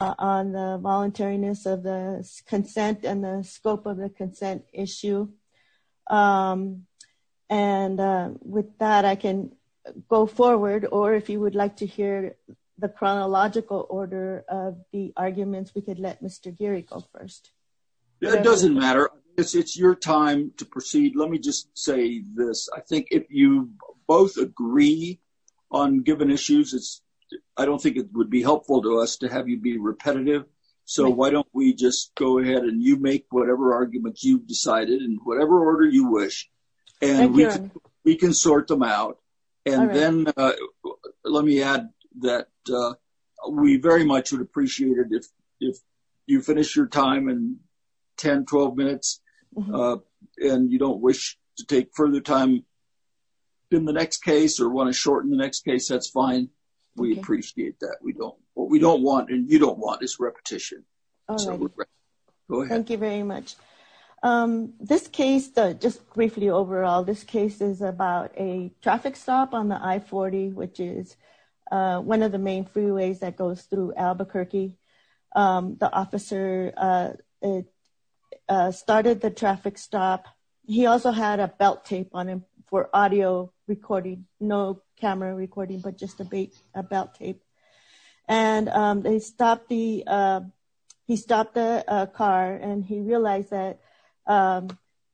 on the voluntariness of the consent and the scope of the consent issue. And with that, I can go forward or if you would like to hear the chronological order of the arguments, we could let Mr. Geary go first. That doesn't matter. It's your time to proceed. Let me just say this. I think if you both agree on given issues, I don't think it would be helpful to us to have you be repetitive. So why don't we just go ahead and you make whatever arguments you've decided in whatever order you wish. And we can sort them out. And then let me add that we very much would appreciate it if you finish your time in 10-12 minutes and you don't wish to take further time in the next case or want to shorten the next case, that's fine. We appreciate that. What we don't want and you don't want is repetition. Thank you very much. This case, just briefly overall, this case is about a traffic stop on the I-40, which is one of the main freeways that goes through Albuquerque. The officer started the traffic stop. He also had a belt tape on him for audio recording, no camera recording, but just a belt tape. And he stopped the car and he realized that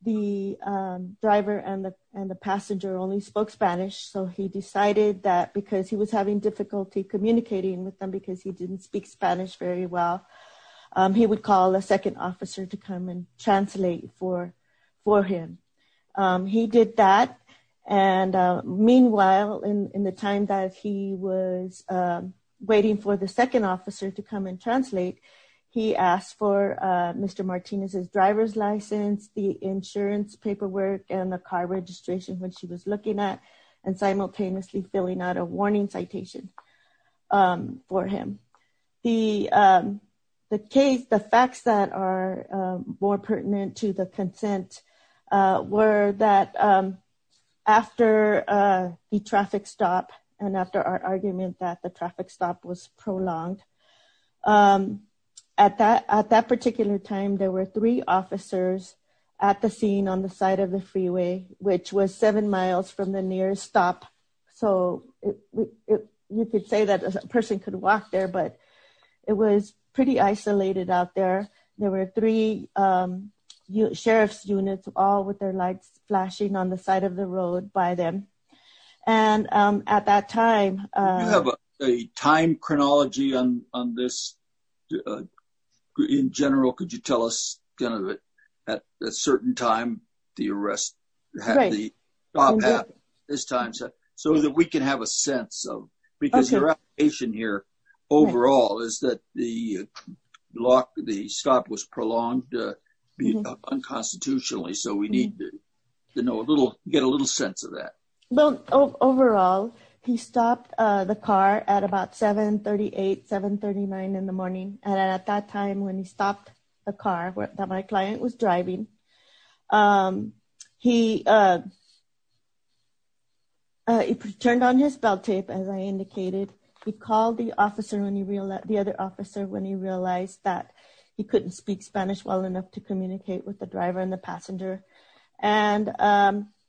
the driver and the passenger only spoke Spanish. So he decided that because he was having difficulty communicating with them because he didn't speak Spanish very well, he would call a second officer to come and translate for him. He did that. And meanwhile, in the time that he was waiting for the second officer to come and translate, he asked for Mr. Martinez's driver's license, the insurance paperwork and the car registration when she was looking at and simultaneously filling out a for him. The facts that are more pertinent to the consent were that after the traffic stop and after our argument that the traffic stop was prolonged, at that particular time, there were three officers at the scene on the side of the freeway, which was seven miles from the nearest stop. So you could say that a person could walk there, but it was pretty isolated out there. There were three sheriff's units all with their lights flashing on the side of the road by them. And at that time, you have a time chronology on this. In general, could you tell us, at a certain time, the arrest happened, this time, so that we can have a sense of because your application here overall is that the stop was prolonged unconstitutionally. So we need to get a little sense of that. Well, overall, he stopped the car at about 7.38, 7.39 in the morning. And at that time, when he my client was driving, he turned on his belt tape, as I indicated. He called the other officer when he realized that he couldn't speak Spanish well enough to communicate with the driver and the passenger. And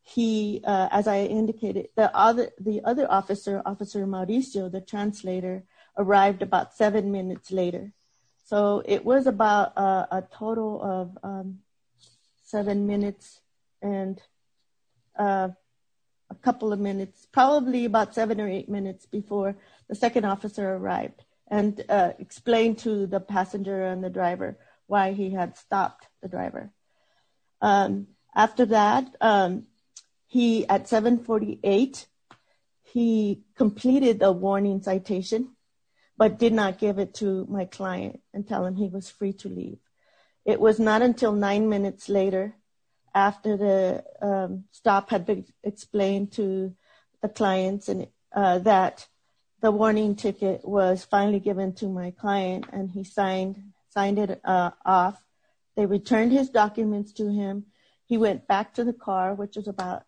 he, as I indicated, the other officer, Officer Mauricio, the translator, arrived about seven minutes later. So it was about a total of seven minutes and a couple of minutes, probably about seven or eight minutes before the second officer arrived and explained to the passenger and the driver why he had stopped the driver. After that, he at 7.48, he completed the warning citation, but did not give it to my client and tell him he was free to leave. It was not until nine minutes later, after the stop had been explained to the clients and that the warning ticket was finally given to my client and he signed, signed it off, they returned his documents to him. He went back to the car, which is about,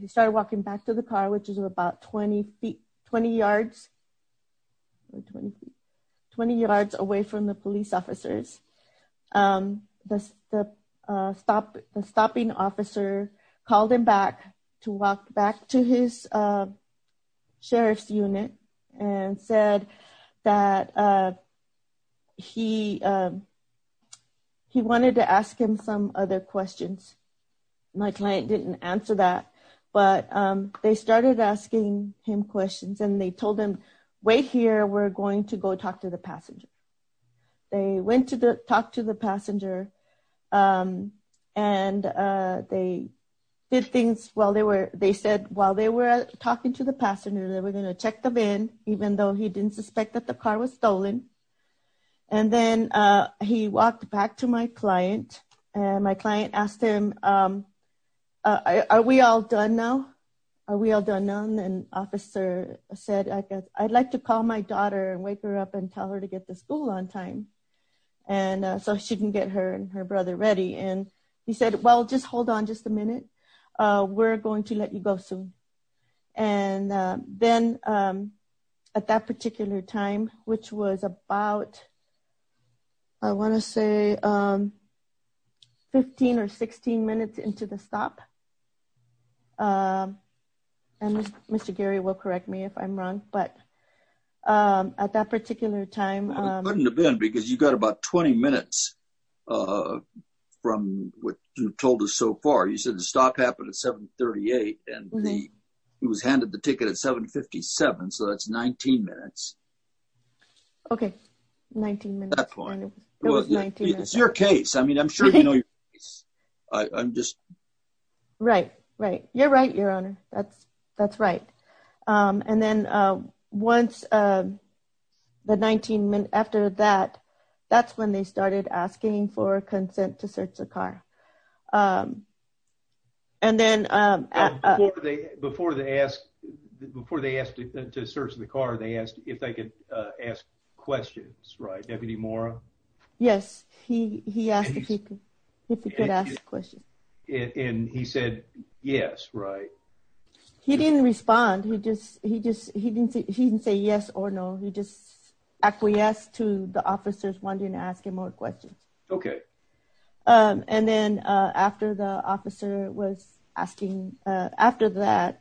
he started walking back to the car, which is about 20 feet, 20 yards, 20 feet, 20 yards away from the police officers. The stop, the stopping officer called him back to walk back to his that he, he wanted to ask him some other questions. My client didn't answer that, but they started asking him questions and they told him, wait here, we're going to go talk to the passenger. They went to talk to the passenger and they did things while they were, they said, while they were talking to the passenger, they were going to check them in, even though he didn't suspect that the car was stolen. And then he walked back to my client and my client asked him, are we all done now? Are we all done now? And officer said, I guess I'd like to call my daughter and wake her up and tell her to get to school on time. And so she can get her and her brother ready. And he said, well, just hold on just a minute. We're going to let you go soon. And then at that particular time, which was about, I want to say 15 or 16 minutes into the stop. And Mr. Gary will correct me if I'm wrong, but at that particular time, because you've got about 20 minutes from what you've told us so far, you said the stop happened at 738 and he was handed the ticket at 757. So that's 19 minutes. Okay. 19 minutes. It's your case. I mean, I'm sure you know, I'm just right. Right. You're right. Your honor. That's, that's right. And then once the 19 minutes after that, that's when they started asking for consent to search the car. Before they asked to search the car, they asked if they could ask questions, right? Deputy Mora? Yes. He asked if he could ask a question. And he said, yes. Right. He didn't respond. He just, he just, he didn't say yes or no. He just acquiesced to the officers wanting to ask him more questions. Okay. And then after the officer was asking, after that,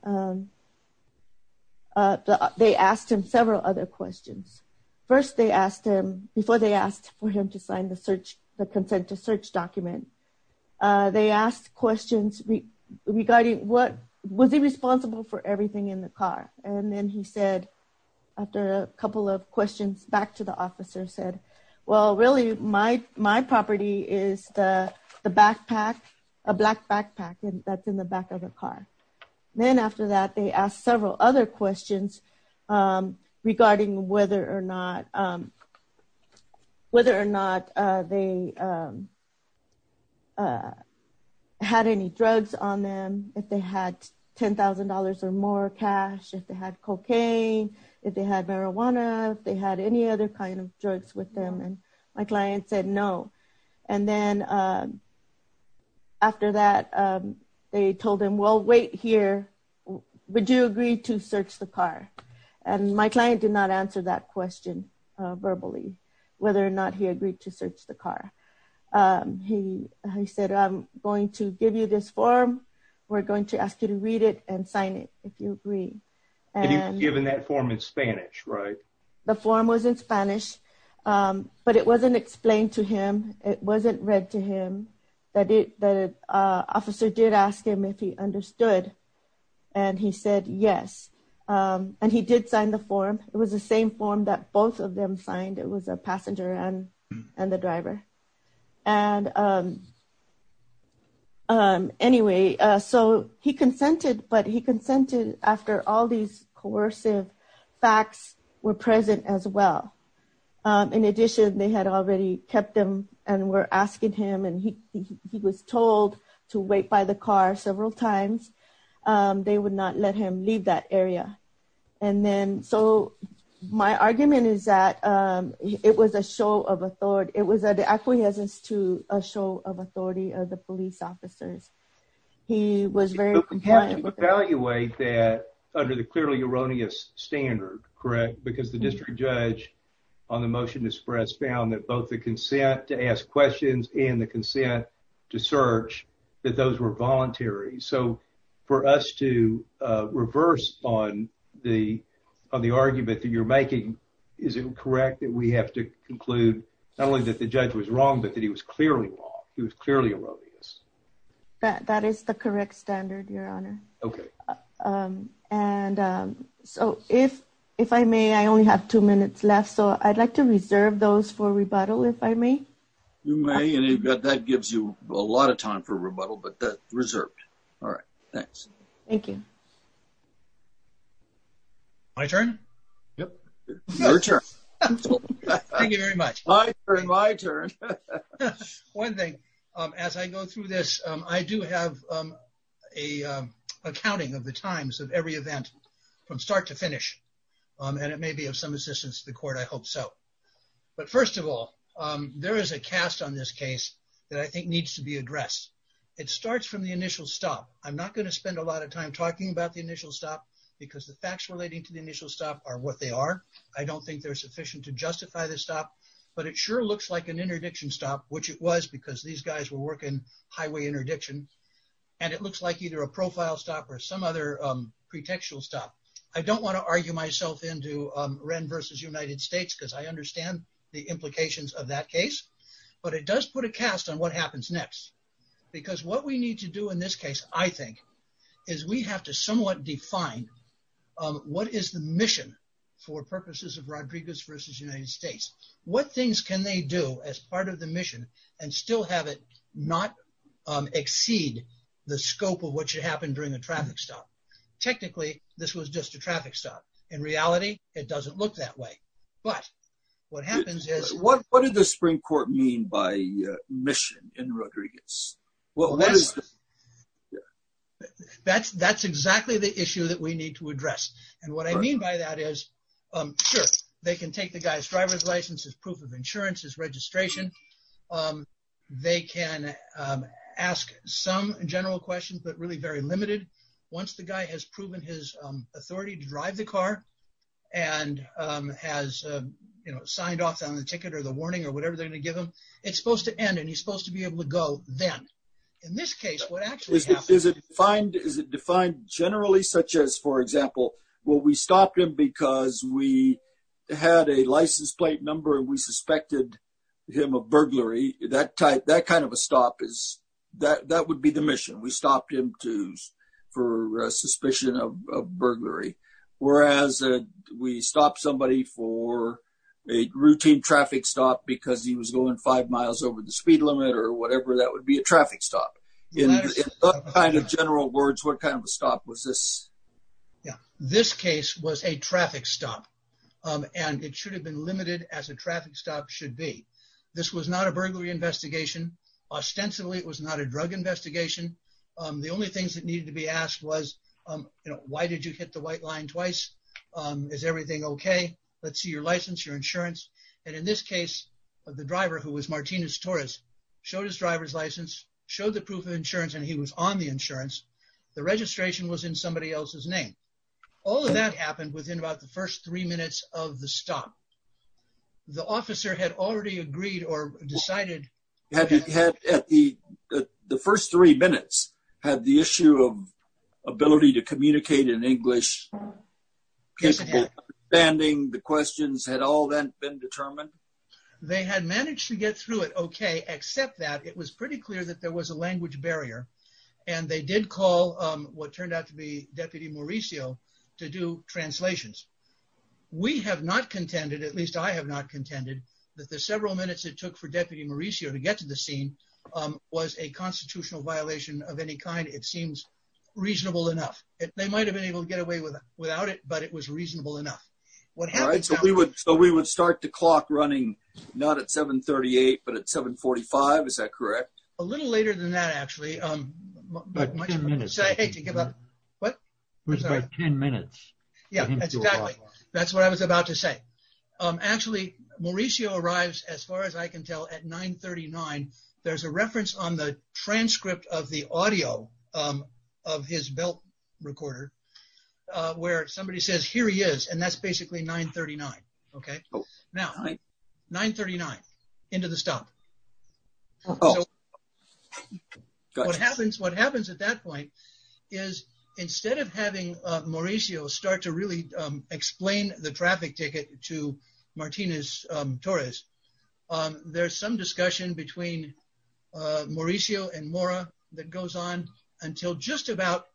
they asked him several other questions. First, they asked him before they asked for him to sign the search, the consent to search document. They asked questions regarding what was he responsible for everything in the car. And then he said, after a couple of questions back to the officer said, well, really my, my property is the backpack, a black backpack, and that's in the back of the car. Then after that, they asked several other questions regarding whether or not, whether or not they had any drugs on them. If they had $10,000 or more cash, if they had cocaine, if they had marijuana, if they had any other kind of drugs with them. And my client said no. And then after that, they told him, well, wait here. Would you agree to search the car? And my client did not answer that question verbally, whether or not he agreed to search the car. He said, I'm going to give you this form. We're going to ask you to read it and sign it. If you agree, given that form in Spanish, right? The form was in Spanish, but it wasn't explained to him. It wasn't read to him that it, that officer did ask him if he understood. And he said yes. And he did sign the form. It was the same form that both of them signed. It was a after all these coercive facts were present as well. In addition, they had already kept them and were asking him and he was told to wait by the car several times. They would not let him leave that area. And then, so my argument is that it was a show of authority. It was an acquiescence to a show of authority of the police officers. He was very competent. You evaluate that under the clearly erroneous standard, correct? Because the district judge on the motion to express found that both the consent to ask questions and the consent to search that those were voluntary. So for us to reverse on the, on the argument that you're making, is it correct that we have to conclude not only that the judge was wrong, but that he was clearly wrong. He was clearly erroneous. That is the correct standard, your honor. Okay. And so if, if I may, I only have two minutes left, so I'd like to reserve those for rebuttal, if I may. You may, and that gives you a lot of time for rebuttal, but that's reserved. All right. Thanks. Thank you. My turn? Yep. Your turn. Thank you very much. My turn. My turn. One thing, as I go through this, I do have a, a counting of the times of every event from start to finish. And it may be of some assistance to the court. I hope so. But first of all, there is a cast on this case that I think needs to be addressed. It starts from the initial stop. I'm not going to spend a lot of time talking about the initial stop because the facts relating to the initial stop are what they are. I don't think they're sufficient to justify the stop, but it sure looks like an interdiction stop, which it was because these guys were working highway interdiction. And it looks like either a profile stop or some other pretextual stop. I don't want to argue myself into Wren versus United States because I understand the implications of that case, but it does put a cast on what happens next. Because what we need to do in this case, I think, is we have to somewhat define, um, what is the mission for purposes of Rodriguez versus United States? What things can they do as part of the mission and still have it not, um, exceed the scope of what should happen during a traffic stop? Technically, this was just a traffic stop. In reality, it doesn't look that way. But what happens is... What did the Supreme Court mean by mission in Rodriguez? That's exactly the issue that we need to address. And what I mean by that is, sure, they can take the guy's driver's license, his proof of insurance, his registration. They can ask some general questions, but really very limited. Once the guy has proven his you know, signed off on the ticket or the warning or whatever they're going to give him, it's supposed to end and he's supposed to be able to go then. In this case, what actually happens... Is it defined generally such as, for example, well, we stopped him because we had a license plate number and we suspected him of burglary. That kind of a stop is... That would be the a routine traffic stop because he was going five miles over the speed limit or whatever. That would be a traffic stop. In general words, what kind of a stop was this? This case was a traffic stop and it should have been limited as a traffic stop should be. This was not a burglary investigation. Ostensibly, it was not a drug investigation. The only things that needed to be asked was, you know, why did you hit the white line twice? Is everything okay? Let's see your license, your insurance. And in this case, the driver, who was Martinez Torres, showed his driver's license, showed the proof of insurance, and he was on the insurance. The registration was in somebody else's name. All of that happened within about the first three minutes of the stop. The officer had already agreed or decided... Understanding the questions had all then been determined? They had managed to get through it okay, except that it was pretty clear that there was a language barrier, and they did call what turned out to be Deputy Mauricio to do translations. We have not contended, at least I have not contended, that the several minutes it took for Deputy Mauricio to get to the scene was a constitutional violation of any kind. It seems reasonable enough. They might have been able to get away without it, but it was reasonable enough. All right, so we would start the clock running not at 7.38, but at 7.45, is that correct? A little later than that, actually. Ten minutes. Sorry, I hate to give up. What? It was about ten minutes. That's what I was about to say. Actually, Mauricio arrives, as far as I can tell, at 9.39. There's a reference on the transcript of the audio of his belt recorder where somebody says, here he is, and that's basically 9.39, okay? Now, 9.39, into the stop. What happens at that point is instead of having Mauricio start to really explain the traffic ticket to Martinez-Torres, there's some discussion between Mauricio and Mora that goes on until just about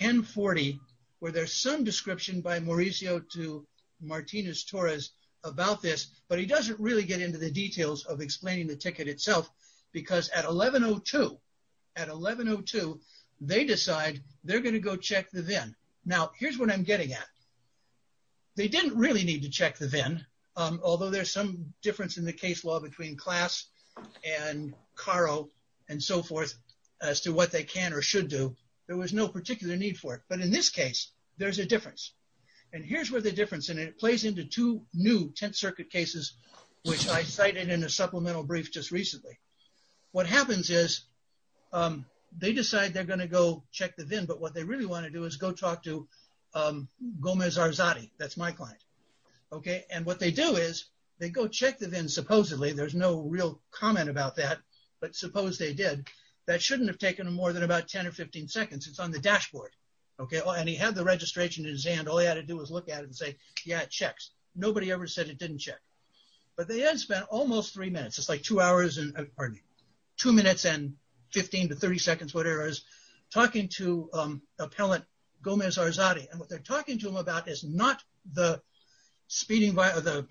10.40, where there's some description by Mauricio to Martinez-Torres about this, but he doesn't really get into the details of explaining the ticket itself, because at 11.02, they decide they're going to go check the VIN. Now, here's what I'm getting at. They didn't really need to check the VIN, although there's some difference in the case law between Klass and Caro and so forth, as to what they can or should do. There was no particular need for it, but in this case, there's a difference, and here's where the difference, and it plays into two new Tenth Circuit cases, which I cited in a supplemental brief just recently. What happens is they decide they're going to go check the VIN, but what they really want to do is talk to Gomez-Arzate, that's my client, and what they do is they go check the VIN supposedly, there's no real comment about that, but suppose they did, that shouldn't have taken more than about 10 or 15 seconds, it's on the dashboard, and he had the registration in his hand, all he had to do was look at it and say, yeah, it checks. Nobody ever said it didn't check, but they had spent almost three minutes, it's like two hours and, pardon me, talking to appellant Gomez-Arzate, and what they're talking to him about is not the speeding, pardon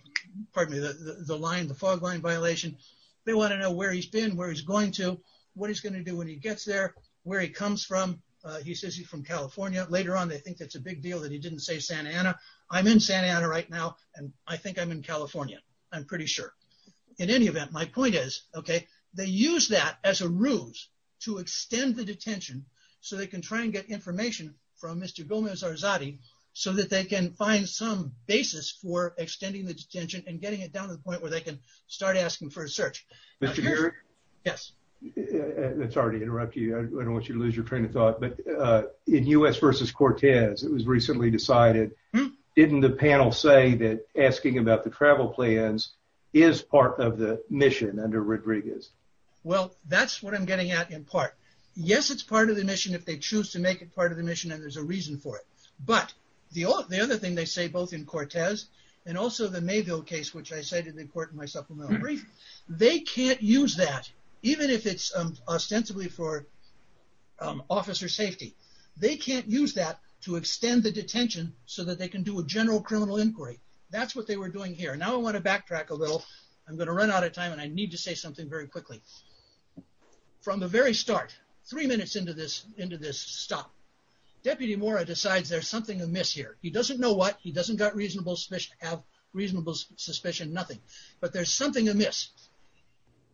me, the line, the fog line violation, they want to know where he's been, where he's going to, what he's going to do when he gets there, where he comes from, he says he's from California, later on they think that's a big deal that he didn't say Santa Ana, I'm in Santa Ana right now, and I think I'm in California, I'm pretty sure. In any event, my point is, okay, they use that as a ruse to extend the detention so they can try and get information from Mr. Gomez-Arzate so that they can find some basis for extending the detention and getting it down to the point where they can start asking for a search. Mr. Garrett? Yes. Sorry to interrupt you, I don't want you to lose your train of thought, but in U.S. versus Cortez, it was recently decided, didn't the panel say that asking about the travel plans is part of the mission under Rodriguez? Well, that's what I'm getting at in part. Yes, it's part of the mission if they choose to make it part of the mission and there's a reason for it, but the other thing they say, both in Cortez and also the Mayville case, which I cited in court in my supplemental brief, they can't use that, even if it's ostensibly for officer safety, they can't use that to extend the detention so that they can do a general criminal inquiry. That's what they were doing here. Now I want to backtrack a little. I'm going to run out of time and I need to say something very quickly. From the very start, three minutes into this stop, Deputy Mora decides there's something amiss here. He doesn't know what, he doesn't have reasonable suspicion, nothing, but there's something amiss.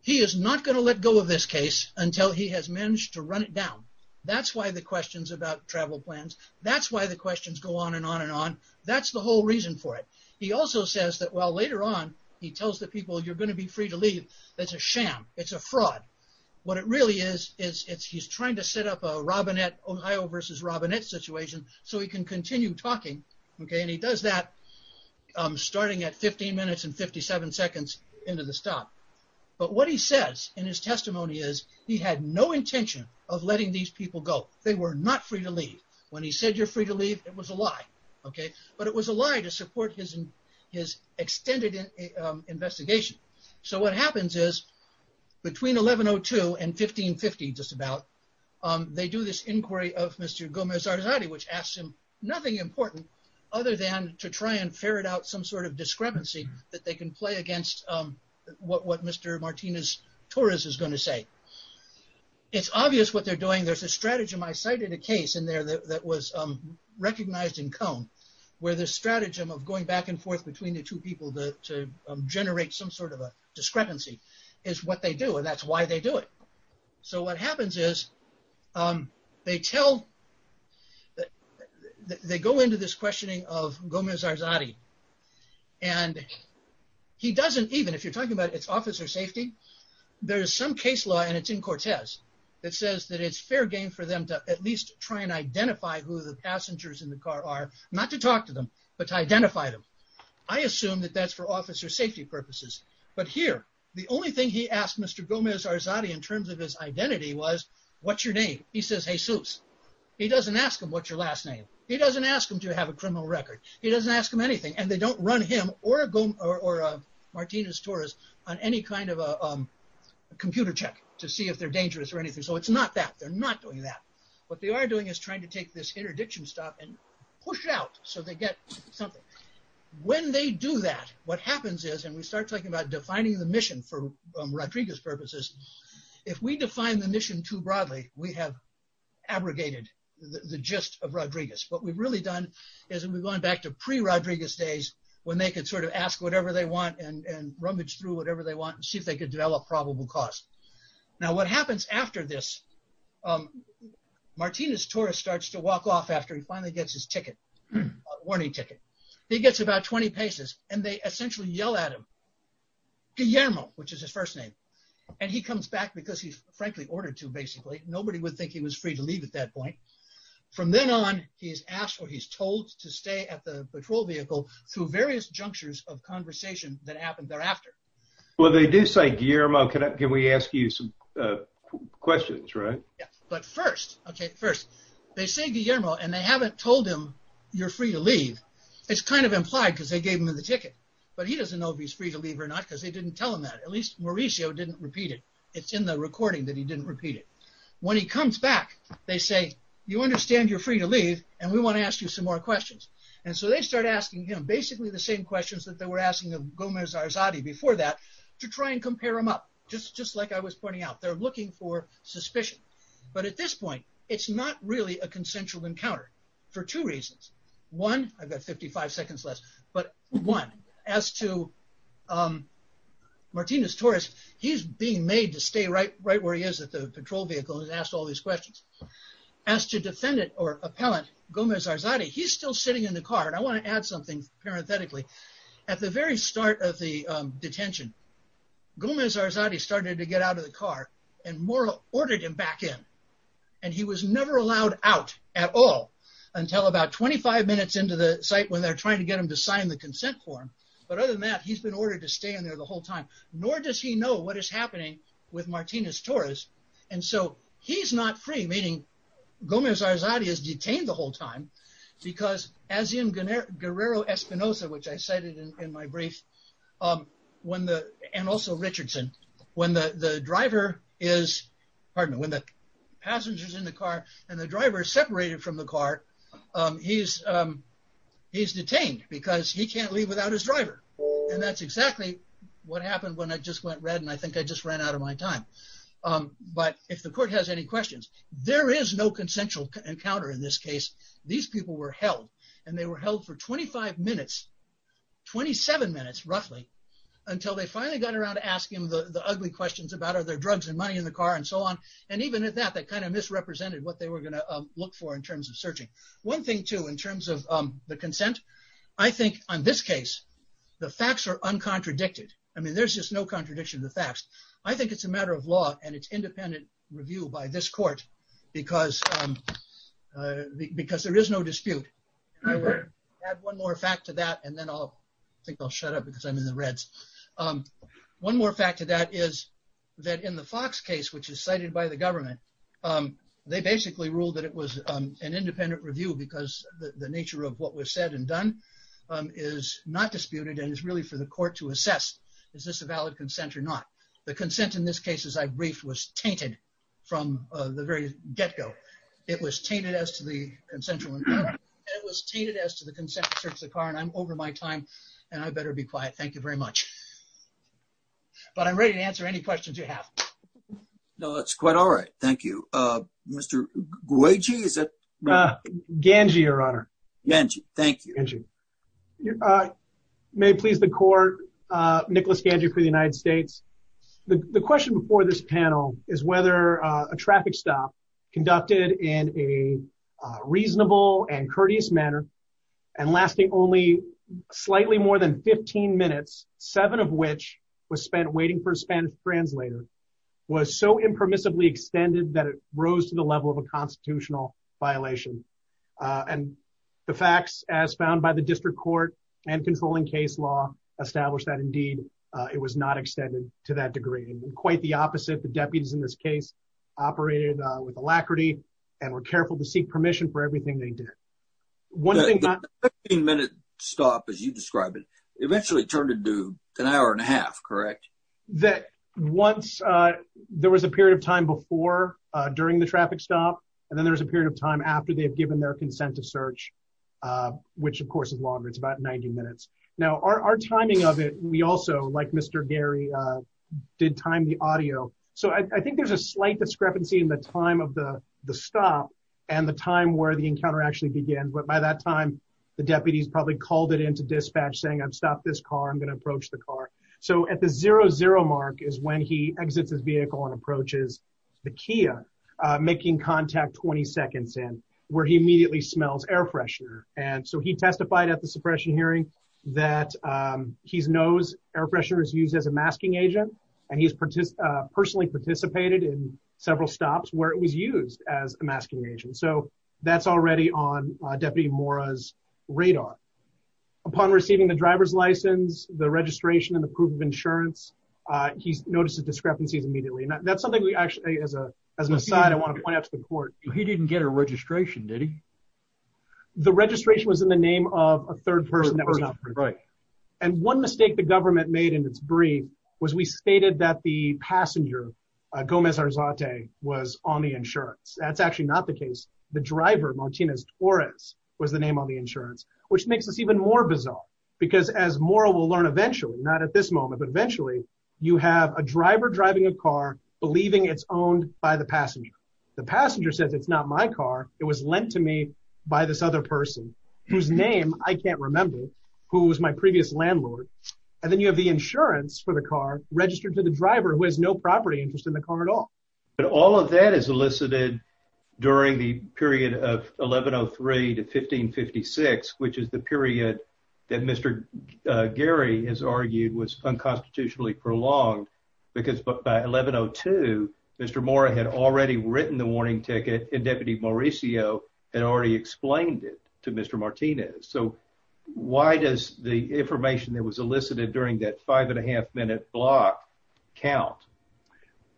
He is not going to let go of this case until he has managed to run it down. That's why the questions about travel plans, that's why the questions go on and on and on. That's the whole reason for it. He also says that while later on he tells the people you're going to be free to leave, that's a sham, it's a fraud. What it really is, is he's trying to set up a Robinette, Ohio versus Robinette situation so he can continue talking. He does that starting at 15 minutes and 57 seconds into the stop. But what he says in his testimony is he had no intention of letting these people go. They were not free to leave. When he said you're free to leave, it was a lie. But it was a lie to support his extended investigation. So what happens is, between 11.02 and 15.50 just about, they do this inquiry of Mr. Gomez-Arzadi which asks him nothing important other than to try and ferret out some sort of discrepancy that they can play against what Mr. Martinez-Torres is going to do. He decided a case in there that was recognized in Cone where the stratagem of going back and forth between the two people to generate some sort of a discrepancy is what they do and that's why they do it. So what happens is, they go into this questioning of Gomez-Arzadi and he doesn't, even if you're talking about its officer safety, there is some case law and it's in Cortez that it's fair game for them to at least try and identify who the passengers in the car are, not to talk to them, but to identify them. I assume that that's for officer safety purposes. But here, the only thing he asked Mr. Gomez-Arzadi in terms of his identity was, what's your name? He says Jesus. He doesn't ask him what's your last name. He doesn't ask him to have a criminal record. He doesn't ask him anything and they don't run him or Martinez-Torres on any kind of a computer check to see if they're dangerous or anything. So it's not that, they're not doing that. What they are doing is trying to take this interdiction stop and push out so they get something. When they do that, what happens is, and we start talking about defining the mission for Rodriguez purposes, if we define the mission too broadly, we have abrogated the gist of Rodriguez. What we've really done is we've gone back to pre-Rodriguez days when they could sort of ask whatever they want and rummage through whatever they want and see if they could develop probable cause. Now what happens after this, Martinez-Torres starts to walk off after he finally gets his ticket, warning ticket. He gets about 20 paces and they essentially yell at him, Guillermo, which is his first name. And he comes back because he's frankly ordered to basically, nobody would think he was free to leave at that point. From then on, he is asked or he's told to stay at the patrol vehicle through various junctures of conversation that happened thereafter. Well, they do say Guillermo, can we ask you some questions, right? But first, okay, first, they say Guillermo and they haven't told him you're free to leave. It's kind of implied because they gave him the ticket, but he doesn't know if he's free to leave or not, because they didn't tell him that. At least Mauricio didn't repeat it. It's in the recording that he didn't repeat it. When he comes back, they say, you understand you're free to leave and we want to ask you some more questions. And so they start asking him basically the same questions that they were asking of Gomez-Arzadi before that to try and compare them up. Just like I was pointing out, they're looking for suspicion. But at this point, it's not really a consensual encounter for two reasons. One, I've got 55 seconds left, but one, as to Martinez-Torres, he's being made to stay right where he is at the patrol vehicle and is asked all these questions. As to defendant or appellant Gomez-Arzadi, he's still sitting in the car. And I want to add something parenthetically. At the very start of the detention, Gomez-Arzadi started to get out of the car and ordered him back in. And he was never allowed out at all until about 25 minutes into the site when they're trying to get him to sign the consent form. But other than that, he's been ordered to stay in there the whole time, nor does he know what is happening with him. Gomez-Arzadi is detained the whole time because as in Guerrero-Espinosa, which I cited in my brief, and also Richardson, when the passenger is in the car and the driver is separated from the car, he's detained because he can't leave without his driver. And that's exactly what happened when I just went red and I think I just ran out of my time. But if the court has any questions, there is no consensual encounter in this case. These people were held and they were held for 25 minutes, 27 minutes roughly, until they finally got around to asking the ugly questions about are there drugs and money in the car and so on. And even at that, that kind of misrepresented what they were going to look for in terms of searching. One thing too, in terms of the consent, I think on this case, the facts are uncontradicted. I mean, there's just no contradiction to the facts. I think it's a matter of law and it's independent review by this court because there is no dispute. Add one more fact to that and then I'll think I'll shut up because I'm in the reds. One more fact to that is that in the Fox case, which is cited by the government, they basically ruled that it was an independent review because the nature of what was said and done is not disputed and is really for the court to assess. Is this a valid consent or not? The consent in this case, as I briefed, was tainted from the very get-go. It was tainted as to the consensual encounter. It was tainted as to the consent to search the car. And I'm over my time and I better be quiet. Thank you very much. But I'm ready to answer any questions you have. No, that's quite all right. Thank you. Mr. Guaji, is that right? Ganji, Your Honor. Ganji. Thank you. Your Honor, may it please the court, Nicholas Ganji for the United States. The question before this panel is whether a traffic stop conducted in a reasonable and courteous manner and lasting only slightly more than 15 minutes, seven of which was spent waiting for a Spanish translator, was so impermissibly extended that it rose to the level of a constitutional violation. And the facts as found by the district court and controlling case law establish that indeed it was not extended to that degree. And quite the opposite, the deputies in this case operated with alacrity and were careful to seek permission for everything they did. The 15-minute stop, as you describe it, eventually turned into an hour and a half, correct? Once, there was a period of time before during the traffic stop, and then there was a period of time after they've given their consent to search, which of course is longer. It's about 90 minutes. Now, our timing of it, we also, like Mr. Gary, did time the audio. So I think there's a slight discrepancy in the time of the stop and the time where the encounter actually began. But by that time, the deputies probably called it into dispatch saying, I've stopped this car, I'm going to approach the car. So at the zero zero mark is when he exits his vehicle and approaches the Kia, making contact 20 seconds in, where he immediately smells air freshener. And so he testified at the suppression hearing that he knows air freshener is used as a masking agent. And he's personally participated in several stops where it was used as a masking agent. So that's already on Deputy Mora's radar. Upon receiving the driver's license, the registration and the proof of insurance, he's noticed the discrepancies immediately. And that's something we actually as a, as an aside, I want to point out to the court, he didn't get a registration, did he? The registration was in the name of a third person that was not right. And one mistake the government made in its brief was we stated that the passenger Gomez Arzate was on the insurance. That's actually not the case. The driver Martinez Torres was the on the insurance, which makes this even more bizarre, because as Mora will learn eventually, not at this moment, but eventually, you have a driver driving a car, believing it's owned by the passenger. The passenger says it's not my car. It was lent to me by this other person, whose name I can't remember, who was my previous landlord. And then you have the insurance for the car registered to the driver who has no property interest in the car at all. But all of that is 1103 to 1556, which is the period that Mr. Gary has argued was unconstitutionally prolonged, because by 1102, Mr. Mora had already written the warning ticket and Deputy Mauricio had already explained it to Mr. Martinez. So why does the information that was elicited during that five and a half minute block count?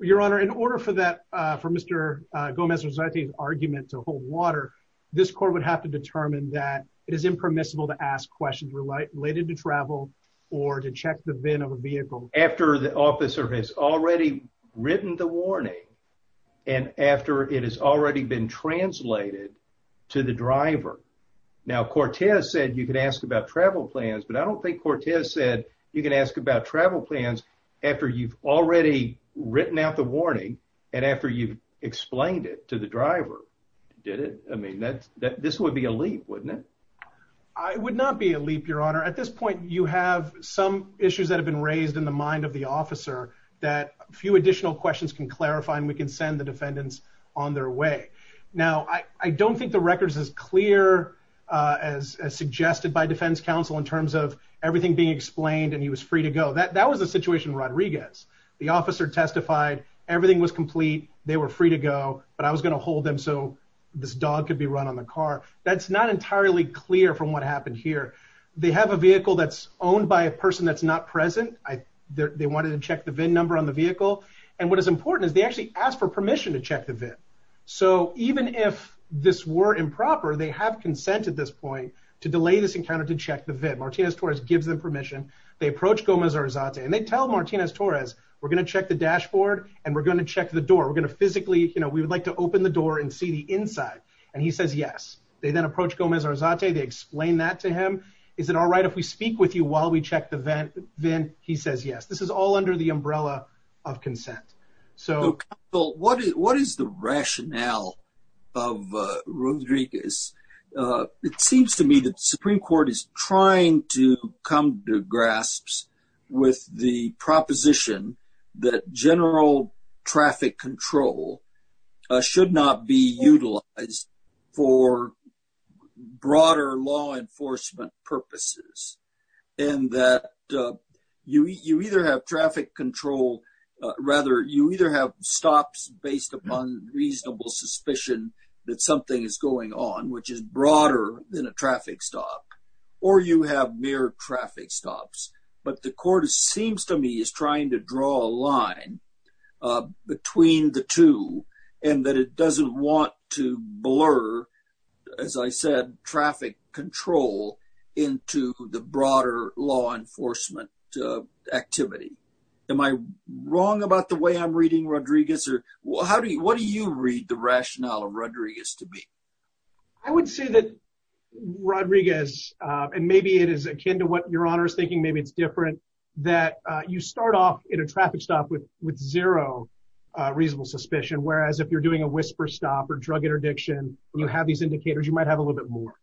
Your Honor, in order for that, for Mr. Gomez Arzate's argument to hold water, this court would have to determine that it is impermissible to ask questions related to travel or to check the VIN of a vehicle. After the officer has already written the warning and after it has already been translated to the driver. Now, Cortez said you could ask about travel plans, but I don't think Cortez said you can ask about travel plans after you've already written out the warning and after you've explained it to the driver. Did it? I mean, this would be a leap, wouldn't it? I would not be a leap, Your Honor. At this point, you have some issues that have been raised in the mind of the officer that a few additional questions can clarify and we can send the defendants on their way. Now, I don't think the record is as clear as suggested by defense counsel in terms of everything being explained and he was free to go. That was the situation Rodriguez. The officer testified everything was complete, they were free to go, but I was going to hold them so this dog could be run on the car. That's not entirely clear from what happened here. They have a vehicle that's owned by a person that's not present. They wanted to check the VIN number on the vehicle and what is important is they actually asked for permission to check the VIN. So, even if this were improper, they have consent at this point to delay this encounter to check the We're going to check the dashboard and we're going to check the door. We're going to physically, you know, we would like to open the door and see the inside and he says yes. They then approach Gomez Arzate. They explain that to him. Is it all right if we speak with you while we check the VIN? He says yes. This is all under the umbrella of consent. So, what is the rationale of Rodriguez? It seems to me that the Supreme Court is trying to come to grasps with the proposition that general traffic control should not be utilized for broader law enforcement purposes and that you either have traffic control, rather, you either have stops based upon reasonable suspicion that something is going on, which is broader than a traffic stop, or you have mere traffic stops, but the court seems to me is trying to draw a line between the two and that it doesn't want to blur, as I said, traffic control into the broader law enforcement activity. Am I wrong about the way I'm reading Rodriguez or what do you read the rationale of Rodriguez to be? I would say that Rodriguez, and maybe it is akin to what your honor is thinking, maybe it's different, that you start off in a traffic stop with zero reasonable suspicion, whereas if you're doing a whisper stop or drug interdiction, you have these indicators, you might have a little bit more,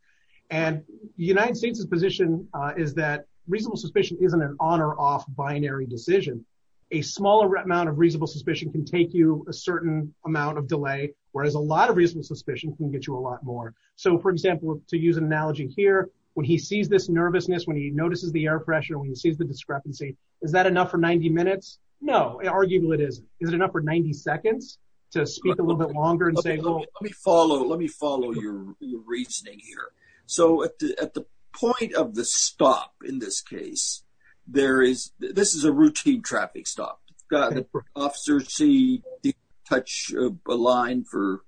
and the United States' position is that reasonable suspicion isn't an on or off binary decision. A smaller amount of reasonable suspicion can take you a certain amount of delay, whereas a lot of reasonable suspicion can get you a lot more. So, for example, to use an analogy here, when he sees this nervousness, when he notices the air pressure, when he sees the discrepancy, is that enough for 90 minutes? No, arguably it isn't. Is it enough for 90 seconds to speak a little bit longer and say, let me follow, let me follow your reasoning here. So at the point of the stop in this case, there is, this is a routine traffic stop. Officers see, touch a line for,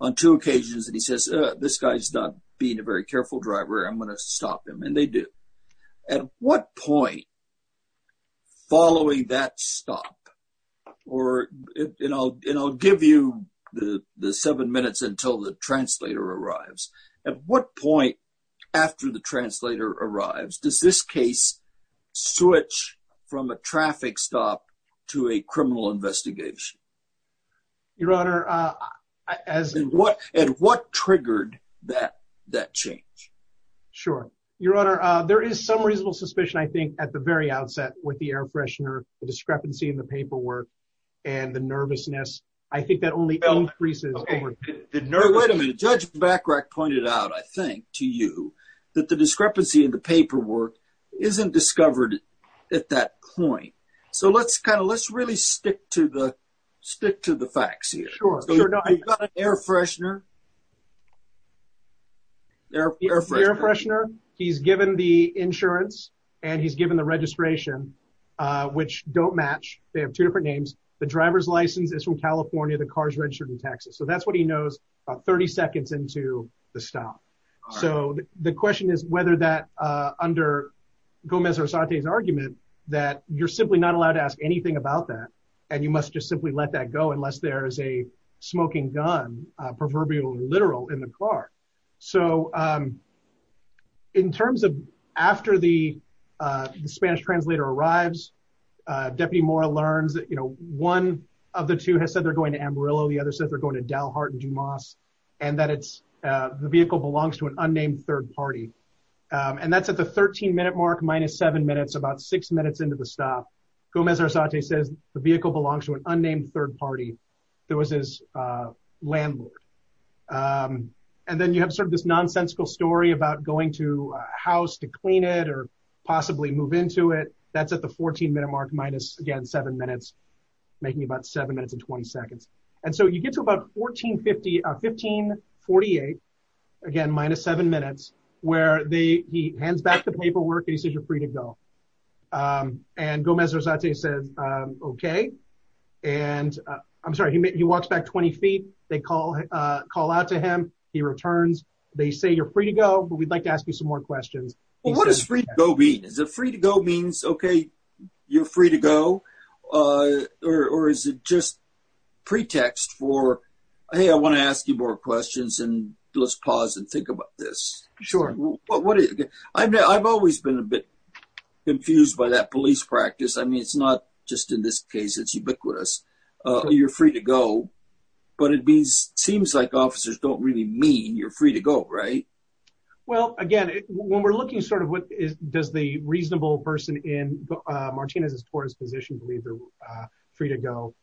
on two occasions, and he says, this guy's not being a very careful driver, I'm going to stop him, and they do. At what point, following that stop, or, and I'll give you the seven minutes until the translator arrives, at what point after the translator arrives, does this case switch from a traffic stop to a criminal investigation? Your Honor, uh, as, and what, and what triggered that, that change? Sure. Your Honor, uh, there is some reasonable suspicion, I think, at the very outset with the air freshener, the discrepancy in the paperwork, and the nervousness. I think that only increases. Wait a minute, Judge Bachrach pointed out, I think, to you, that the discrepancy in the paperwork isn't discovered at that point. So let's kind of, let's really stick to the, stick to the facts here. Sure. Air freshener, air freshener, he's given the insurance, and he's given the registration, uh, which don't match. They have two different names. The driver's license is from California, the car's registered in Texas. So that's what he knows about 30 seconds into the stop. So the question is whether that, uh, under Gomez-Arzate's argument, that you're simply not allowed to ask anything about that, and you must just simply let that go unless there is a smoking gun, proverbial literal, in the car. So, um, in terms of after the, uh, the Spanish translator arrives, uh, Deputy Mora learns that, you know, one of the two has said they're going to Amarillo, the other said they're going to Dalhart and Dumas, and that it's, uh, the vehicle belongs to an unnamed third party. Um, and that's at the 13-minute mark, minus seven minutes, about six minutes into the stop. Gomez-Arzate says the vehicle belongs to an unnamed third party. There was his, uh, landlord. Um, and then you have sort of this nonsensical story about going to a 13-minute mark, minus, again, seven minutes, making about seven minutes and 20 seconds. And so you get to about 1450, uh, 1548, again, minus seven minutes, where they, he hands back the paperwork and he says you're free to go. Um, and Gomez-Arzate says, um, okay, and, uh, I'm sorry, he, he walks back 20 feet, they call, uh, call out to him, he returns, they say you're free to go, but we'd like to ask you some more questions. Well, what does free to go mean? Is it free to go means, okay, you're free to go, uh, or, or is it just pretext for, hey, I want to ask you more questions and let's pause and think about this. Sure. What, what are you, I've, I've always been a bit confused by that police practice. I mean, it's not just in this case, it's ubiquitous. Uh, you're free to go, but it means, seems like officers don't really mean you're free to go, right? Well, again, when we're looking sort of what is, does the reasonable person in, uh, Martinez-Torres' position believe they're, uh, free to go,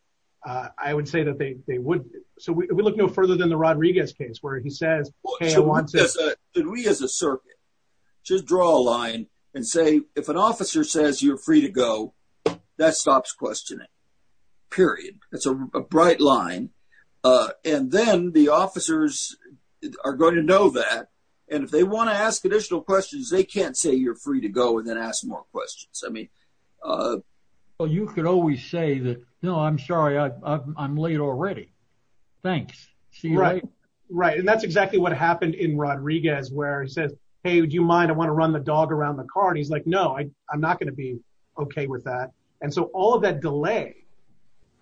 uh, I would say that they, they wouldn't. So we look no further than the Rodriguez case where he says, okay, I want to. Should we, as a circuit, just draw a line and say, if an officer says you're free to go, that stops questioning, period. That's a bright line. Uh, and then the officers are going to know that. And if they want to ask additional questions, they can't say you're free to go and then ask more questions. I mean, uh, well, you could always say that, no, I'm sorry. I I'm late already. Thanks. Right. Right. And that's exactly what happened in Rodriguez where he says, hey, would you mind, I want to run the dog around the car. And he's like, no, I, I'm not going to be okay with that. And so all of that delay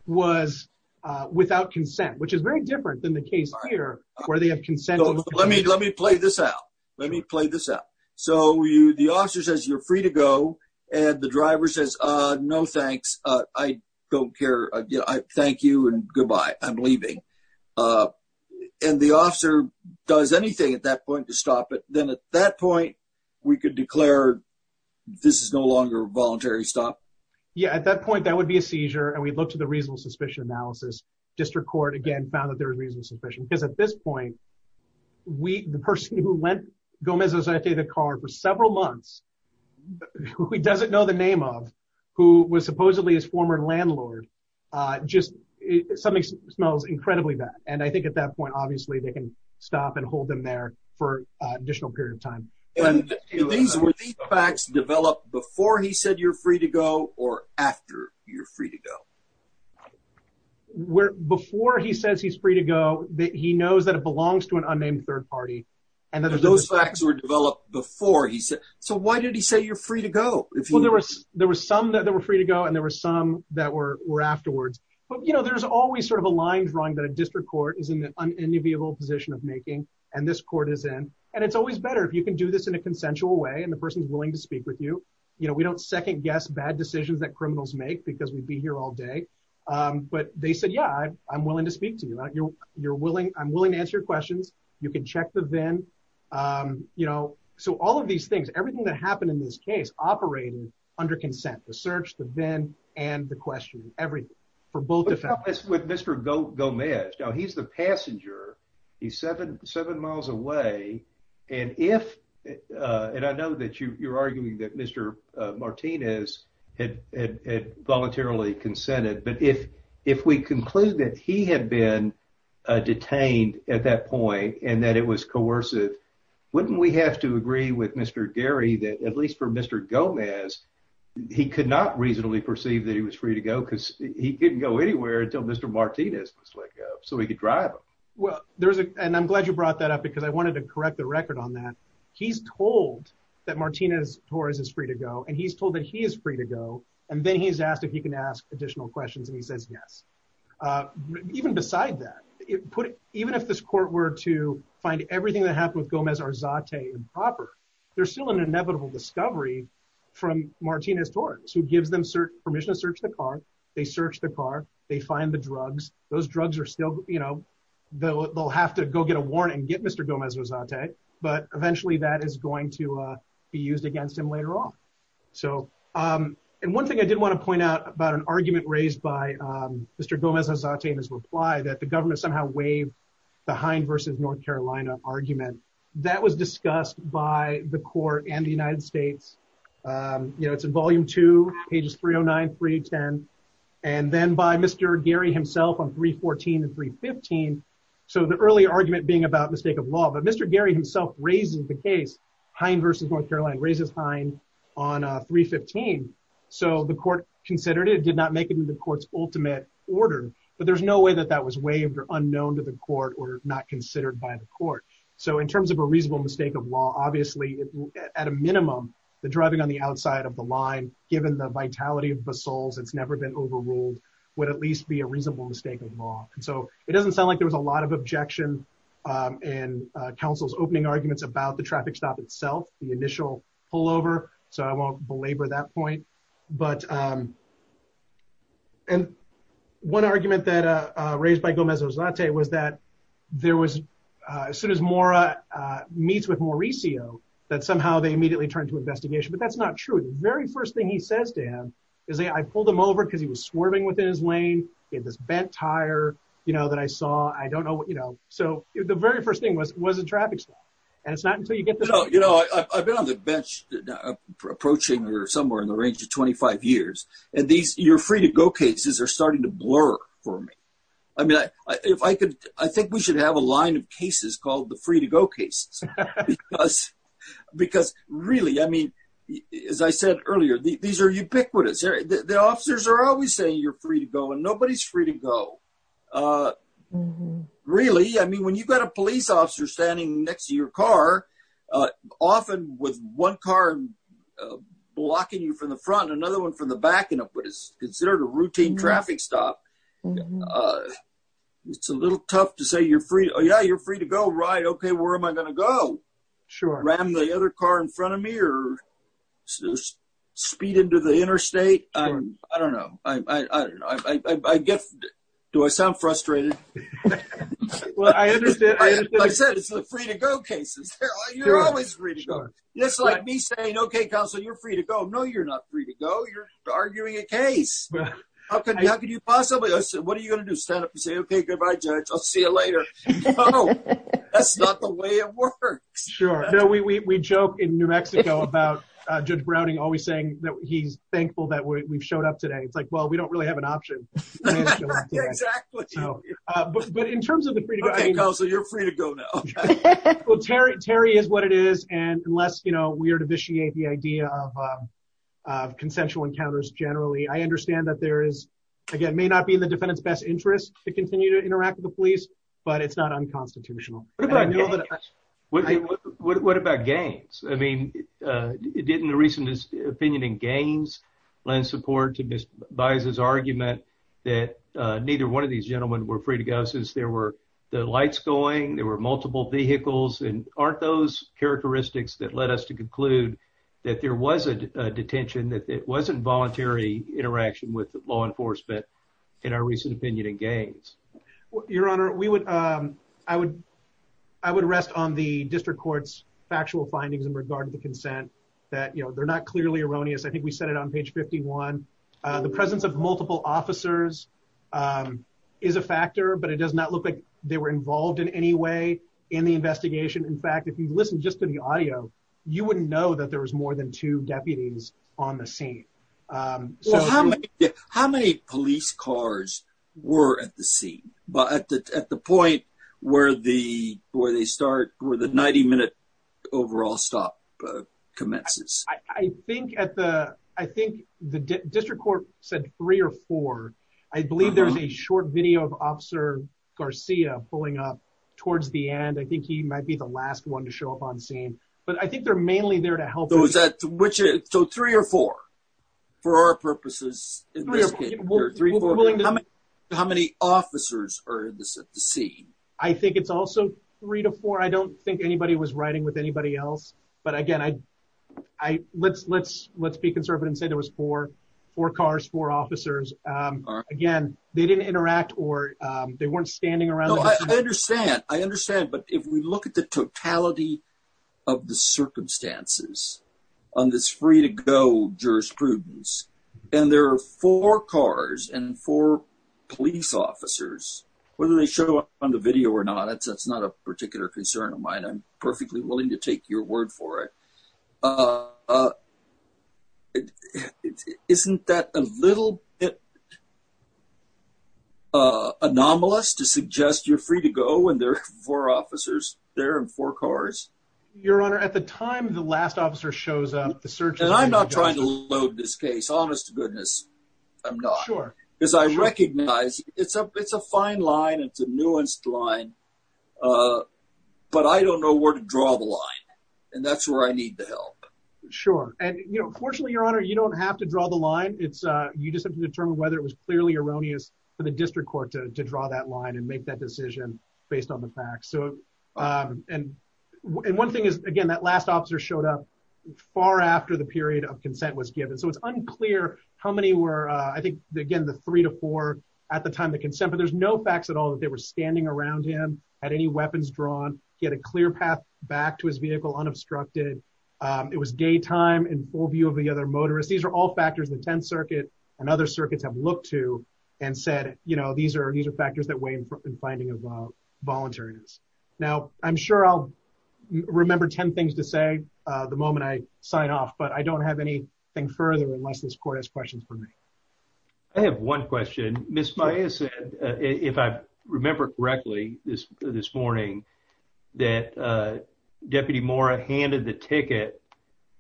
was, uh, without consent, which is very different than the case here where they have consent. Let me, let me play this out. Let me play this out. So you, the officer says, you're free to go. And the driver says, uh, no, thanks. Uh, I don't care. Thank you. And goodbye. I'm leaving. Uh, and the officer does anything at that point to stop it. Then at that point we could declare this is no longer voluntary. Stop. Yeah. At that point, that would be a seizure. And we'd look to the reasonable suspicion analysis district court again, found that there was reason sufficient because at this point we, the person who went Gomez's, I'd say the car for several months, who he doesn't know the name of who was supposedly his former landlord, uh, just something smells incredibly bad. And I think at that point, obviously they can stop and hold them there for an additional period of time. And these facts developed before he said you're free to go or after you're free to go where, before he says he's free to go, that he knows that it belongs to an unnamed third party. And then those facts were developed before he said, so why did he say you're free to go? If there was, there was some that were free to go and there were some that were, were afterwards, but you know, there's always sort of a line drawing that a district court is in the unenviable position of making, and this court is in, and it's always better if you can do this in a consensual way. And the person's willing to speak with you. You know, we don't second guess bad decisions that criminals make because we'd be here all day. Um, but they said, yeah, I'm willing to speak to you. You're, you're willing, I'm willing to answer your questions. You can check the VIN. Um, you know, so all of these things, everything that happened in this case operated under consent, the search, the VIN, and the questioning, everything for both. But what about Mr. Gomez? Now he's the passenger. He's seven, seven miles away. And if, uh, and I know that you, you're arguing that Mr. Martinez had voluntarily consented, but if, if we conclude that he had been detained at that point and that it was coercive, wouldn't we have to agree with Mr. Gary that at least for Mr. Gomez, he could not reasonably perceive that he was free to go because he didn't go anywhere until Mr. Martinez was like, uh, so he could drive him. Well, there was a, and I'm glad you brought that up because I wanted to correct the record on that. He's told that Martinez Torres is free to go and he's told that he is free to go. And then he's asked if he can ask additional questions. And he says, yes. Uh, even beside that it put it, even if this court were to find everything that happened with Gomez Arzate improper, there's still an inevitable discovery from Martinez Torres who gives them permission to search the car. They searched the car, they find the drugs. Those drugs are still, you know, they'll, they'll have to go get a warrant and get Mr. Gomez Arzate, but eventually that is going to, uh, be used against him later on. So, um, and one thing I did want to point out about an argument raised by, um, Mr. Gomez Arzate that the government somehow waived the Hein versus North Carolina argument that was discussed by the court and the United States. Um, you know, it's in volume two, pages 309, 310, and then by Mr. Gary himself on 314 and 315. So the early argument being about mistake of law, but Mr. Gary himself raises the case Hein versus North Carolina raises Hein on a 315. So the court considered it did not make it into the court's ultimate order, but there's no way that that was waived or unknown to the court or not considered by the court. So in terms of a reasonable mistake of law, obviously at a minimum, the driving on the outside of the line, given the vitality of basols, it's never been overruled would at least be a reasonable mistake of law. And so it doesn't sound like there was a lot of objection, um, and, uh, counsel's opening arguments about the traffic stop itself, the initial pullover. So I won't belabor that point. But, um, and one argument that, uh, raised by Gomez Arzate was that there was, uh, as soon as Mora, uh, meets with Mauricio, that somehow they immediately turned to investigation, but that's not true. The very first thing he says to him is that I pulled him over because he was swerving within his lane. He had this bent tire, you know, that I saw, I don't know what, you know, so the very first thing was a traffic stop. And it's not until you get to know, you know, I've been on the bench approaching or somewhere in the range of 25 years. And these you're free to go cases are starting to blur for me. I mean, I, if I could, I think we should have a line of cases called the free to go cases because, because really, I mean, as I said earlier, these are ubiquitous. The officers are always saying you're free to go and nobody's free to go. Uh, really? I mean, when you've got a police officer standing next to your car, uh, often with one car blocking you from the front, another one from the back end of what is considered a routine traffic stop. Uh, it's a little tough to say you're free. Oh yeah. You're free to go ride. Okay. Where am I going to go? Sure. Ram the other car in front of me or speed into the interstate. I don't know. I, I, I guess, do I sound frustrated? Well, I understand. I said, it's the free to go cases. Yes. Like me saying, okay, counsel, you're free to go. No, you're not free to go. You're arguing a case. How can you, how could you possibly, I said, what are you going to do? Stand up and say, okay, goodbye, judge. I'll see you later. That's not the way it works. Sure. No, we, we, we joke in New Mexico about, uh, judge Browning always saying that he's we've showed up today. It's like, well, we don't really have an option, but in terms of the free to go, you're free to go now. Well, Terry, Terry is what it is. And unless, you know, we are to vitiate the idea of, um, uh, consensual encounters generally, I understand that there is, again, may not be in the defendant's best interest to continue to interact with the police, but it's not unconstitutional. What about games? I mean, uh, didn't the recent opinion in games lend support to this buys his argument that, uh, neither one of these gentlemen were free to go since there were the lights going, there were multiple vehicles and aren't those characteristics that led us to conclude that there was a detention, that it wasn't voluntary interaction with law enforcement in our recent opinion in games. Your honor, we would, um, I would, I would rest on the district court's factual findings in regard to the consent that, you know, they're not clearly erroneous. I think we said it on page 51, uh, the presence of multiple officers, um, is a factor, but it does not look like they were involved in any way in the investigation. In fact, if you listen just to the audio, you wouldn't know that there was more than two deputies on the scene. Um, so how, how many police cars were at the scene, but at the, at the point where the, where they start, where the 90 minute overall stop, uh, commences, I think at the, I think the district court said three or four, I believe there's a short video of officer Garcia pulling up towards the end. I think he might be the last one to show up on the scene, but I think they're mainly there to help those at which it's so three or four for our purposes. How many officers are at the scene? I think it's also three to four. I don't think anybody was writing with anybody else, but again, I, I let's, let's, let's be conservative and say there was four, four cars, four officers. Um, again, they didn't interact or, um, they weren't standing around. I understand. I understand. But if we look at the totality of the circumstances on this free to go jurisprudence and there are four cars and four police officers, whether they show up on the video or not, that's, that's not a particular concern of mine. I'm perfectly willing to take your word for it. Uh, uh, isn't that a little bit, uh, anomalous to suggest you're free to go when there are four officers there and four cars, your honor, at the time, the last officer shows up the search. I'm not trying to load this case, honest to goodness. I'm not sure because I recognize it's a, it's a fine line. It's a nuanced line. Uh, but I don't know where to draw the line and that's where I need the help. Sure. And you know, fortunately your honor, you don't have to draw the line. It's a, you just have to determine whether it was clearly erroneous for the district court to, to draw that line and make that decision based on the facts. So, um, and, and one thing is again, that last officer showed up far after the period of consent was given. So it's unclear how many were, uh, I think again, the three to four at the time, the consent, but there's no facts at all that they were standing around him at any weapons drawn. He had a clear path back to his vehicle unobstructed. Um, it was gay time and full view of the other motorists. These are all factors in the 10th circuit and other circuits have looked to and said, you know, these are, these are factors that weigh in front and finding about volunteers. Now I'm sure I'll remember 10 things to say, uh, the moment I sign off, but I don't have anything further unless this court has questions for me. I have one question. Miss Maya said, uh, if I remember correctly this, this morning that, uh, deputy Mora handed the ticket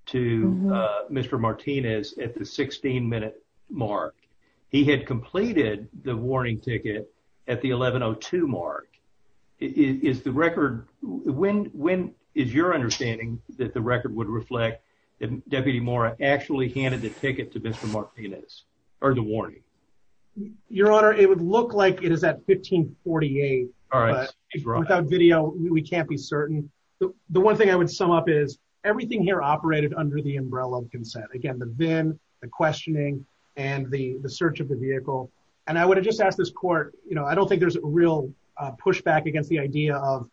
to, uh, Mr. Martinez at the 16 minute mark, he had completed the warning ticket at the 11 Oh two mark is the record. When, when is your understanding that the record would reflect that deputy Mora actually handed the ticket to Mr. Martinez or the warning your honor? It would look like it is at 1548 without video. We can't be certain. The one thing I would sum up is everything here operated under the umbrella of consent. Again, the questioning and the search of the vehicle. And I would have just asked this court, you know, I don't think there's a real pushback against the idea of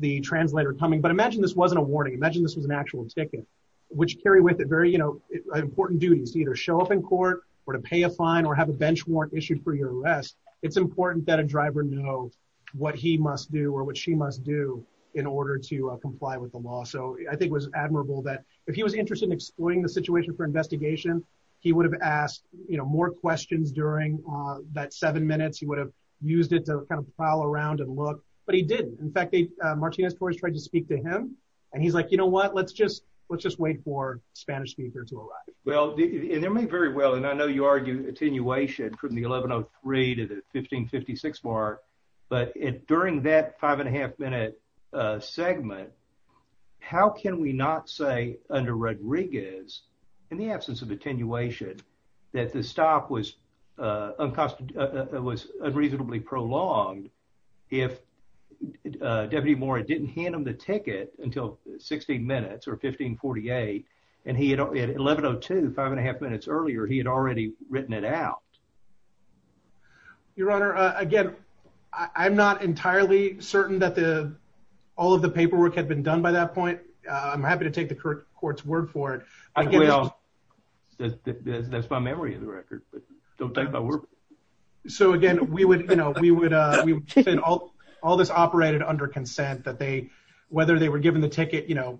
the translator coming, but imagine this wasn't a warning. Imagine this was an actual ticket, which carry with it very, you know, important duties to either show up in court or to pay a fine or have a bench warrant issued for your arrest. It's important that a driver know what he must do or what she must do in order to comply with the law. So I think it was admirable that if he was interested in the situation for investigation, he would have asked more questions during that seven minutes. He would have used it to kind of prowl around and look, but he didn't. In fact, Martinez Torres tried to speak to him and he's like, you know what, let's just, let's just wait for Spanish speaker to arrive. Well, and there may very well. And I know you argue attenuation from the 11 Oh three to the 1556 bar, but it, during that five and a half minute segment, how can we not say under Rodriguez in the absence of attenuation, that the stop was unconstituted, was unreasonably prolonged. If a deputy more, it didn't hand them the ticket until 16 minutes or 1548. And he had 11 Oh two, five and a half minutes earlier, he had already written it out. Your honor. Again, I'm not entirely certain that the, all of the paperwork had been done by that point. I'm happy to take the court's word for it. That's my memory of the record, but don't think about it. So again, we would, you know, we would, we would send all, all this operated under consent that they, whether they were given the ticket, you know,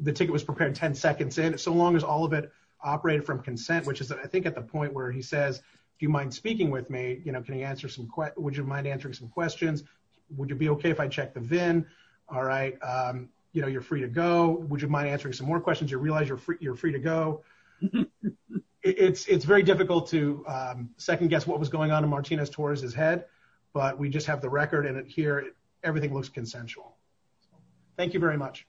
the ticket was prepared 10 seconds in so long as all of it operated from consent, which is, I think at the point where he says, do you mind speaking with me? You know, can he answer some questions? Would you mind Would you mind answering some more questions? You realize you're free, you're free to go. It's, it's very difficult to second guess what was going on in Martinez towards his head, but we just have the record and it here, everything looks consensual. Thank you very much.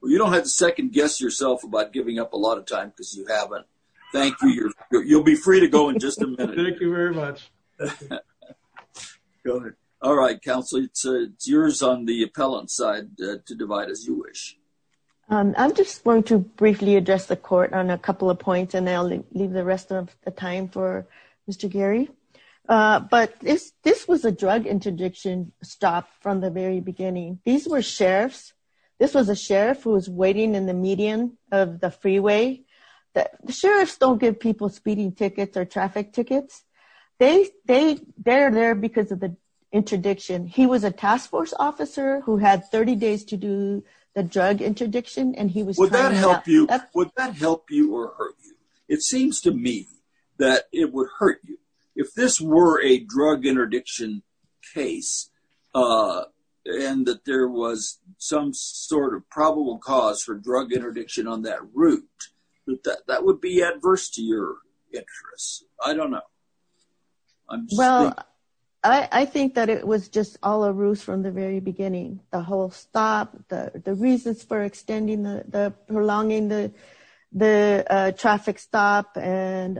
Well, you don't have to second guess yourself about giving up a lot of time because you haven't. Thank you. You'll be free to go in just a minute. Thank you very much. Go ahead. All right. Counsel, it's yours on the appellant side to divide as you wish. I'm just going to briefly address the court on a couple of points and I'll leave the rest of the time for Mr. Gary. But this, this was a drug interdiction stop from the very beginning. These were sheriffs. This was a sheriff who was waiting in the median of the freeway that the they're there because of the interdiction. He was a task force officer who had 30 days to do the drug interdiction. And he was, would that help you or hurt you? It seems to me that it would hurt you if this were a drug interdiction case and that there was some sort of probable cause for drug interdiction on that route, that that would be adverse to your interest. I don't know. Well, I think that it was just all a ruse from the very beginning, the whole stop, the reasons for extending the, the prolonging the, the traffic stop and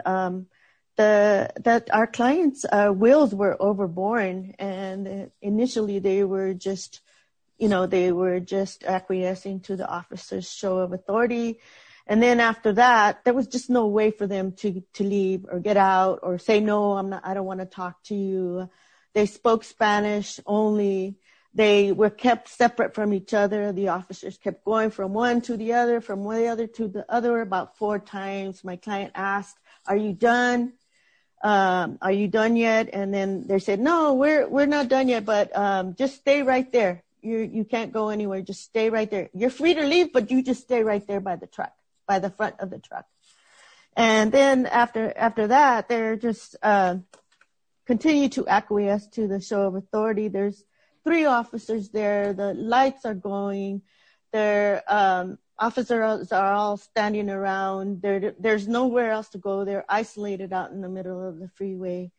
the, that our clients' wills were overborne. And initially they were just, you know, they were just acquiescing to the officer's show of authority. And then after that, there was just no way for them to leave or get out or say, no, I'm not, I don't want to talk to you. They spoke Spanish only. They were kept separate from each other. The officers kept going from one to the other, from one other to the other, about four times. My client asked, are you done? Are you done yet? And then they said, no, we're, we're not done yet, but just stay right there. You can't go anywhere. Just stay right there. You're free to leave, but you just stay right there by the truck, by the front of the truck. And then after, after that, they're just continued to acquiesce to the show of authority. There's three officers there, the lights are going, their officers are all standing around. There, there's nowhere else to go. They're isolated out in the middle of the freeway.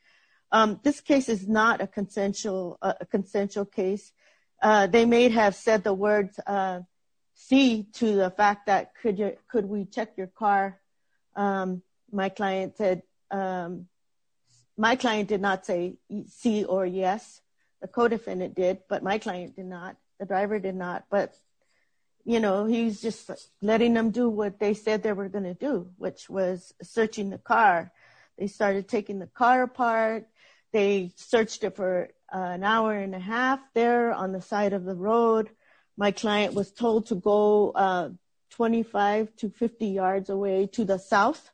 This case is not a consensual, a consensual case. They may have said the words, C to the fact that could you, could we check your car? My client said, my client did not say C or yes, the co-defendant did, but my client did not, the driver did not, but, you know, he's just letting them do what they said they were going to do, which was searching the car. They started taking the car apart. They searched it for an hour and a half there on the side of the road. My client was told to go 25 to 50 yards away to the south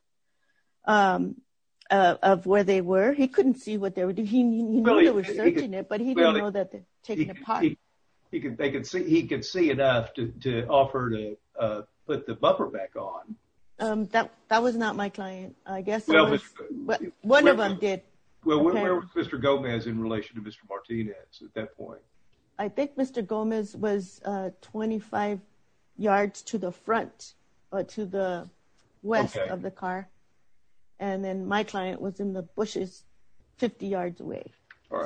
of where they were. He couldn't see what they were doing. He knew they were searching it, but he didn't know that they were taking it apart. He could, they could see, he could see enough to, to offer to put the bumper back on. That, that was not my client. I guess one of them did. Well, where was Mr. Gomez in relation to Mr. Martinez at that point? I think Mr. Gomez was 25 yards to the front or to the west of the car. And then my client was in the bushes 50 yards away.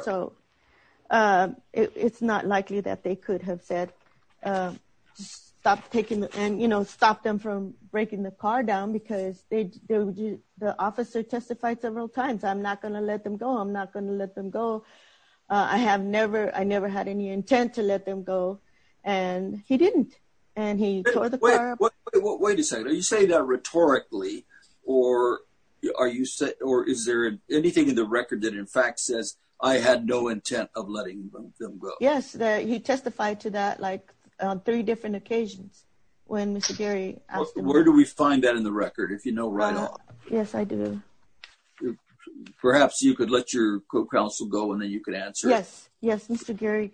So it's not likely that they could have said, just stop taking the, and, you know, stop them from breaking the car down because they, the officer testified several times. I'm not going to let them go. I'm not going to let them go. I have never, I never had any intent to let them go and he didn't. And he tore the car apart. Wait a second. Are you saying that rhetorically or are you, or is there anything in the record that in fact says I had no intent of letting them go? Yes. He testified to that like on three different occasions when Mr. Gary asked him. Where do we find that in the record? If you could answer. Yes. Yes. Mr. Gary.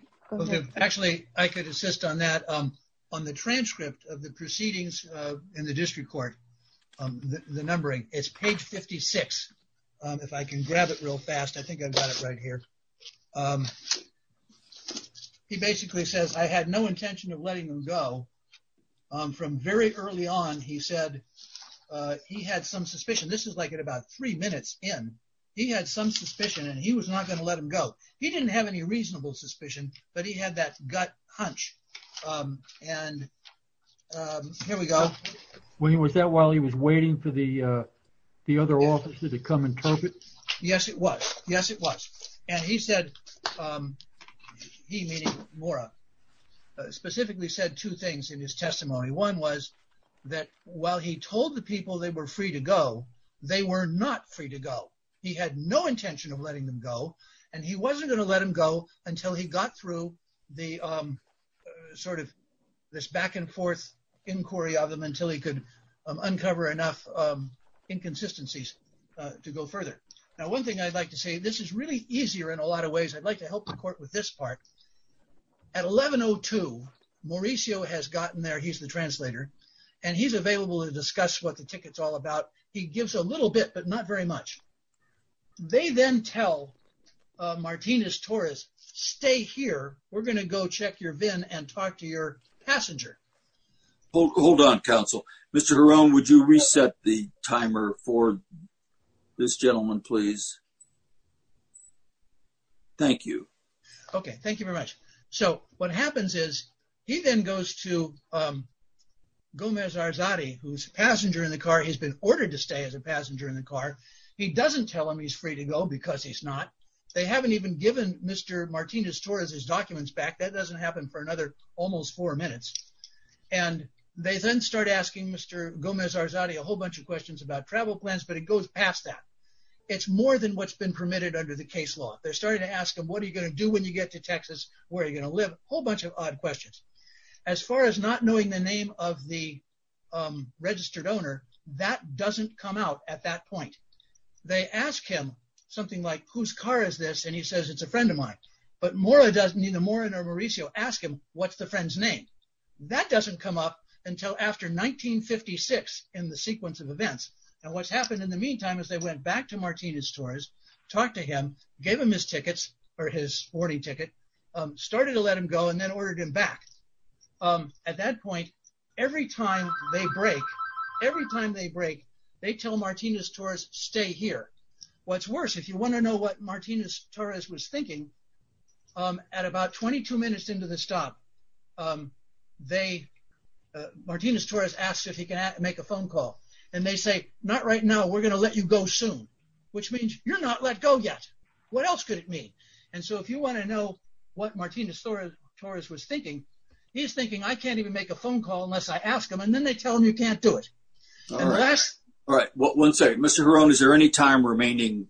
Actually I could assist on that. On the transcript of the proceedings in the district court, the numbering it's page 56. If I can grab it real fast, I think I've got it right here. He basically says, I had no intention of letting them go from very early on. He said he had some suspicion. This is like at about three minutes in, he had some suspicion and he was not going to let them go. He didn't have any reasonable suspicion, but he had that gut hunch. And here we go. Was that while he was waiting for the other officer to come interpret? Yes, it was. Yes, it was. And he said, he meaning Maura, specifically said two things in his testimony. One was that while he told the people they were free to go, they were not free to go. He had no intention of letting them go and he wasn't going to let them go until he got through the sort of this back and forth inquiry of them until he could uncover enough inconsistencies to go further. Now, one thing I'd like to say, this is really easier in a lot of ways. I'd like to help the court with this part. At 1102, Mauricio has gotten there. He's the translator and he's available to discuss what the ticket's all about. He gives a little bit, but not very much. They then tell Martinez Torres, stay here. We're going to go check your VIN and talk to your passenger. Hold on, counsel. Mr. Giron, would you reset the timer for this gentleman, please? Thank you. Okay. Thank you very much. So what happens is he then goes to Gomez Arzade, who's a passenger in the car. He's been ordered to stay as a passenger in the car. He doesn't tell him he's free to go because he's not. They haven't even given Mr. Martinez Torres his documents back. That doesn't happen for another almost four minutes. And they then start asking Mr. Gomez Arzade a whole bunch of questions about travel plans, but it goes past that. It's more than what's been permitted under the case law. They're starting to ask him, what are you going to do when you get to Texas? Where are you going to live? A whole registered owner. That doesn't come out at that point. They ask him something like, whose car is this? And he says, it's a friend of mine. But neither Mora nor Mauricio ask him, what's the friend's name? That doesn't come up until after 1956 in the sequence of events. And what's happened in the meantime is they went back to Martinez Torres, talked to him, gave him his tickets or his boarding ticket, started to let him go, and then ordered him back. At that point, every time they break, every time they break, they tell Martinez Torres, stay here. What's worse, if you want to know what Martinez Torres was thinking, at about 22 minutes into the stop, Martinez Torres asked if he can make a phone call. And they say, not right now, we're going to let you go soon, which means you're not let go yet. What else could it mean? And so if you want to know what Martinez Torres was thinking, he's thinking, I can't even make a phone call unless I ask him, and then they tell him you can't do it. All right. One second. Mr. Hirono, is there any time remaining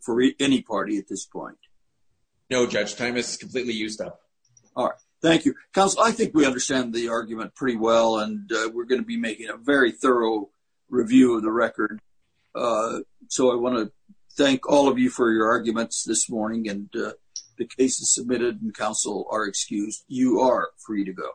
for any party at this point? No, Judge. Time is completely used up. All right. Thank you. Counsel, I think we understand the argument pretty well, and we're going to be making a very thorough review of the record. So I want to thank all of you for your arguments this morning, and the cases submitted in counsel are excused. You are free to go.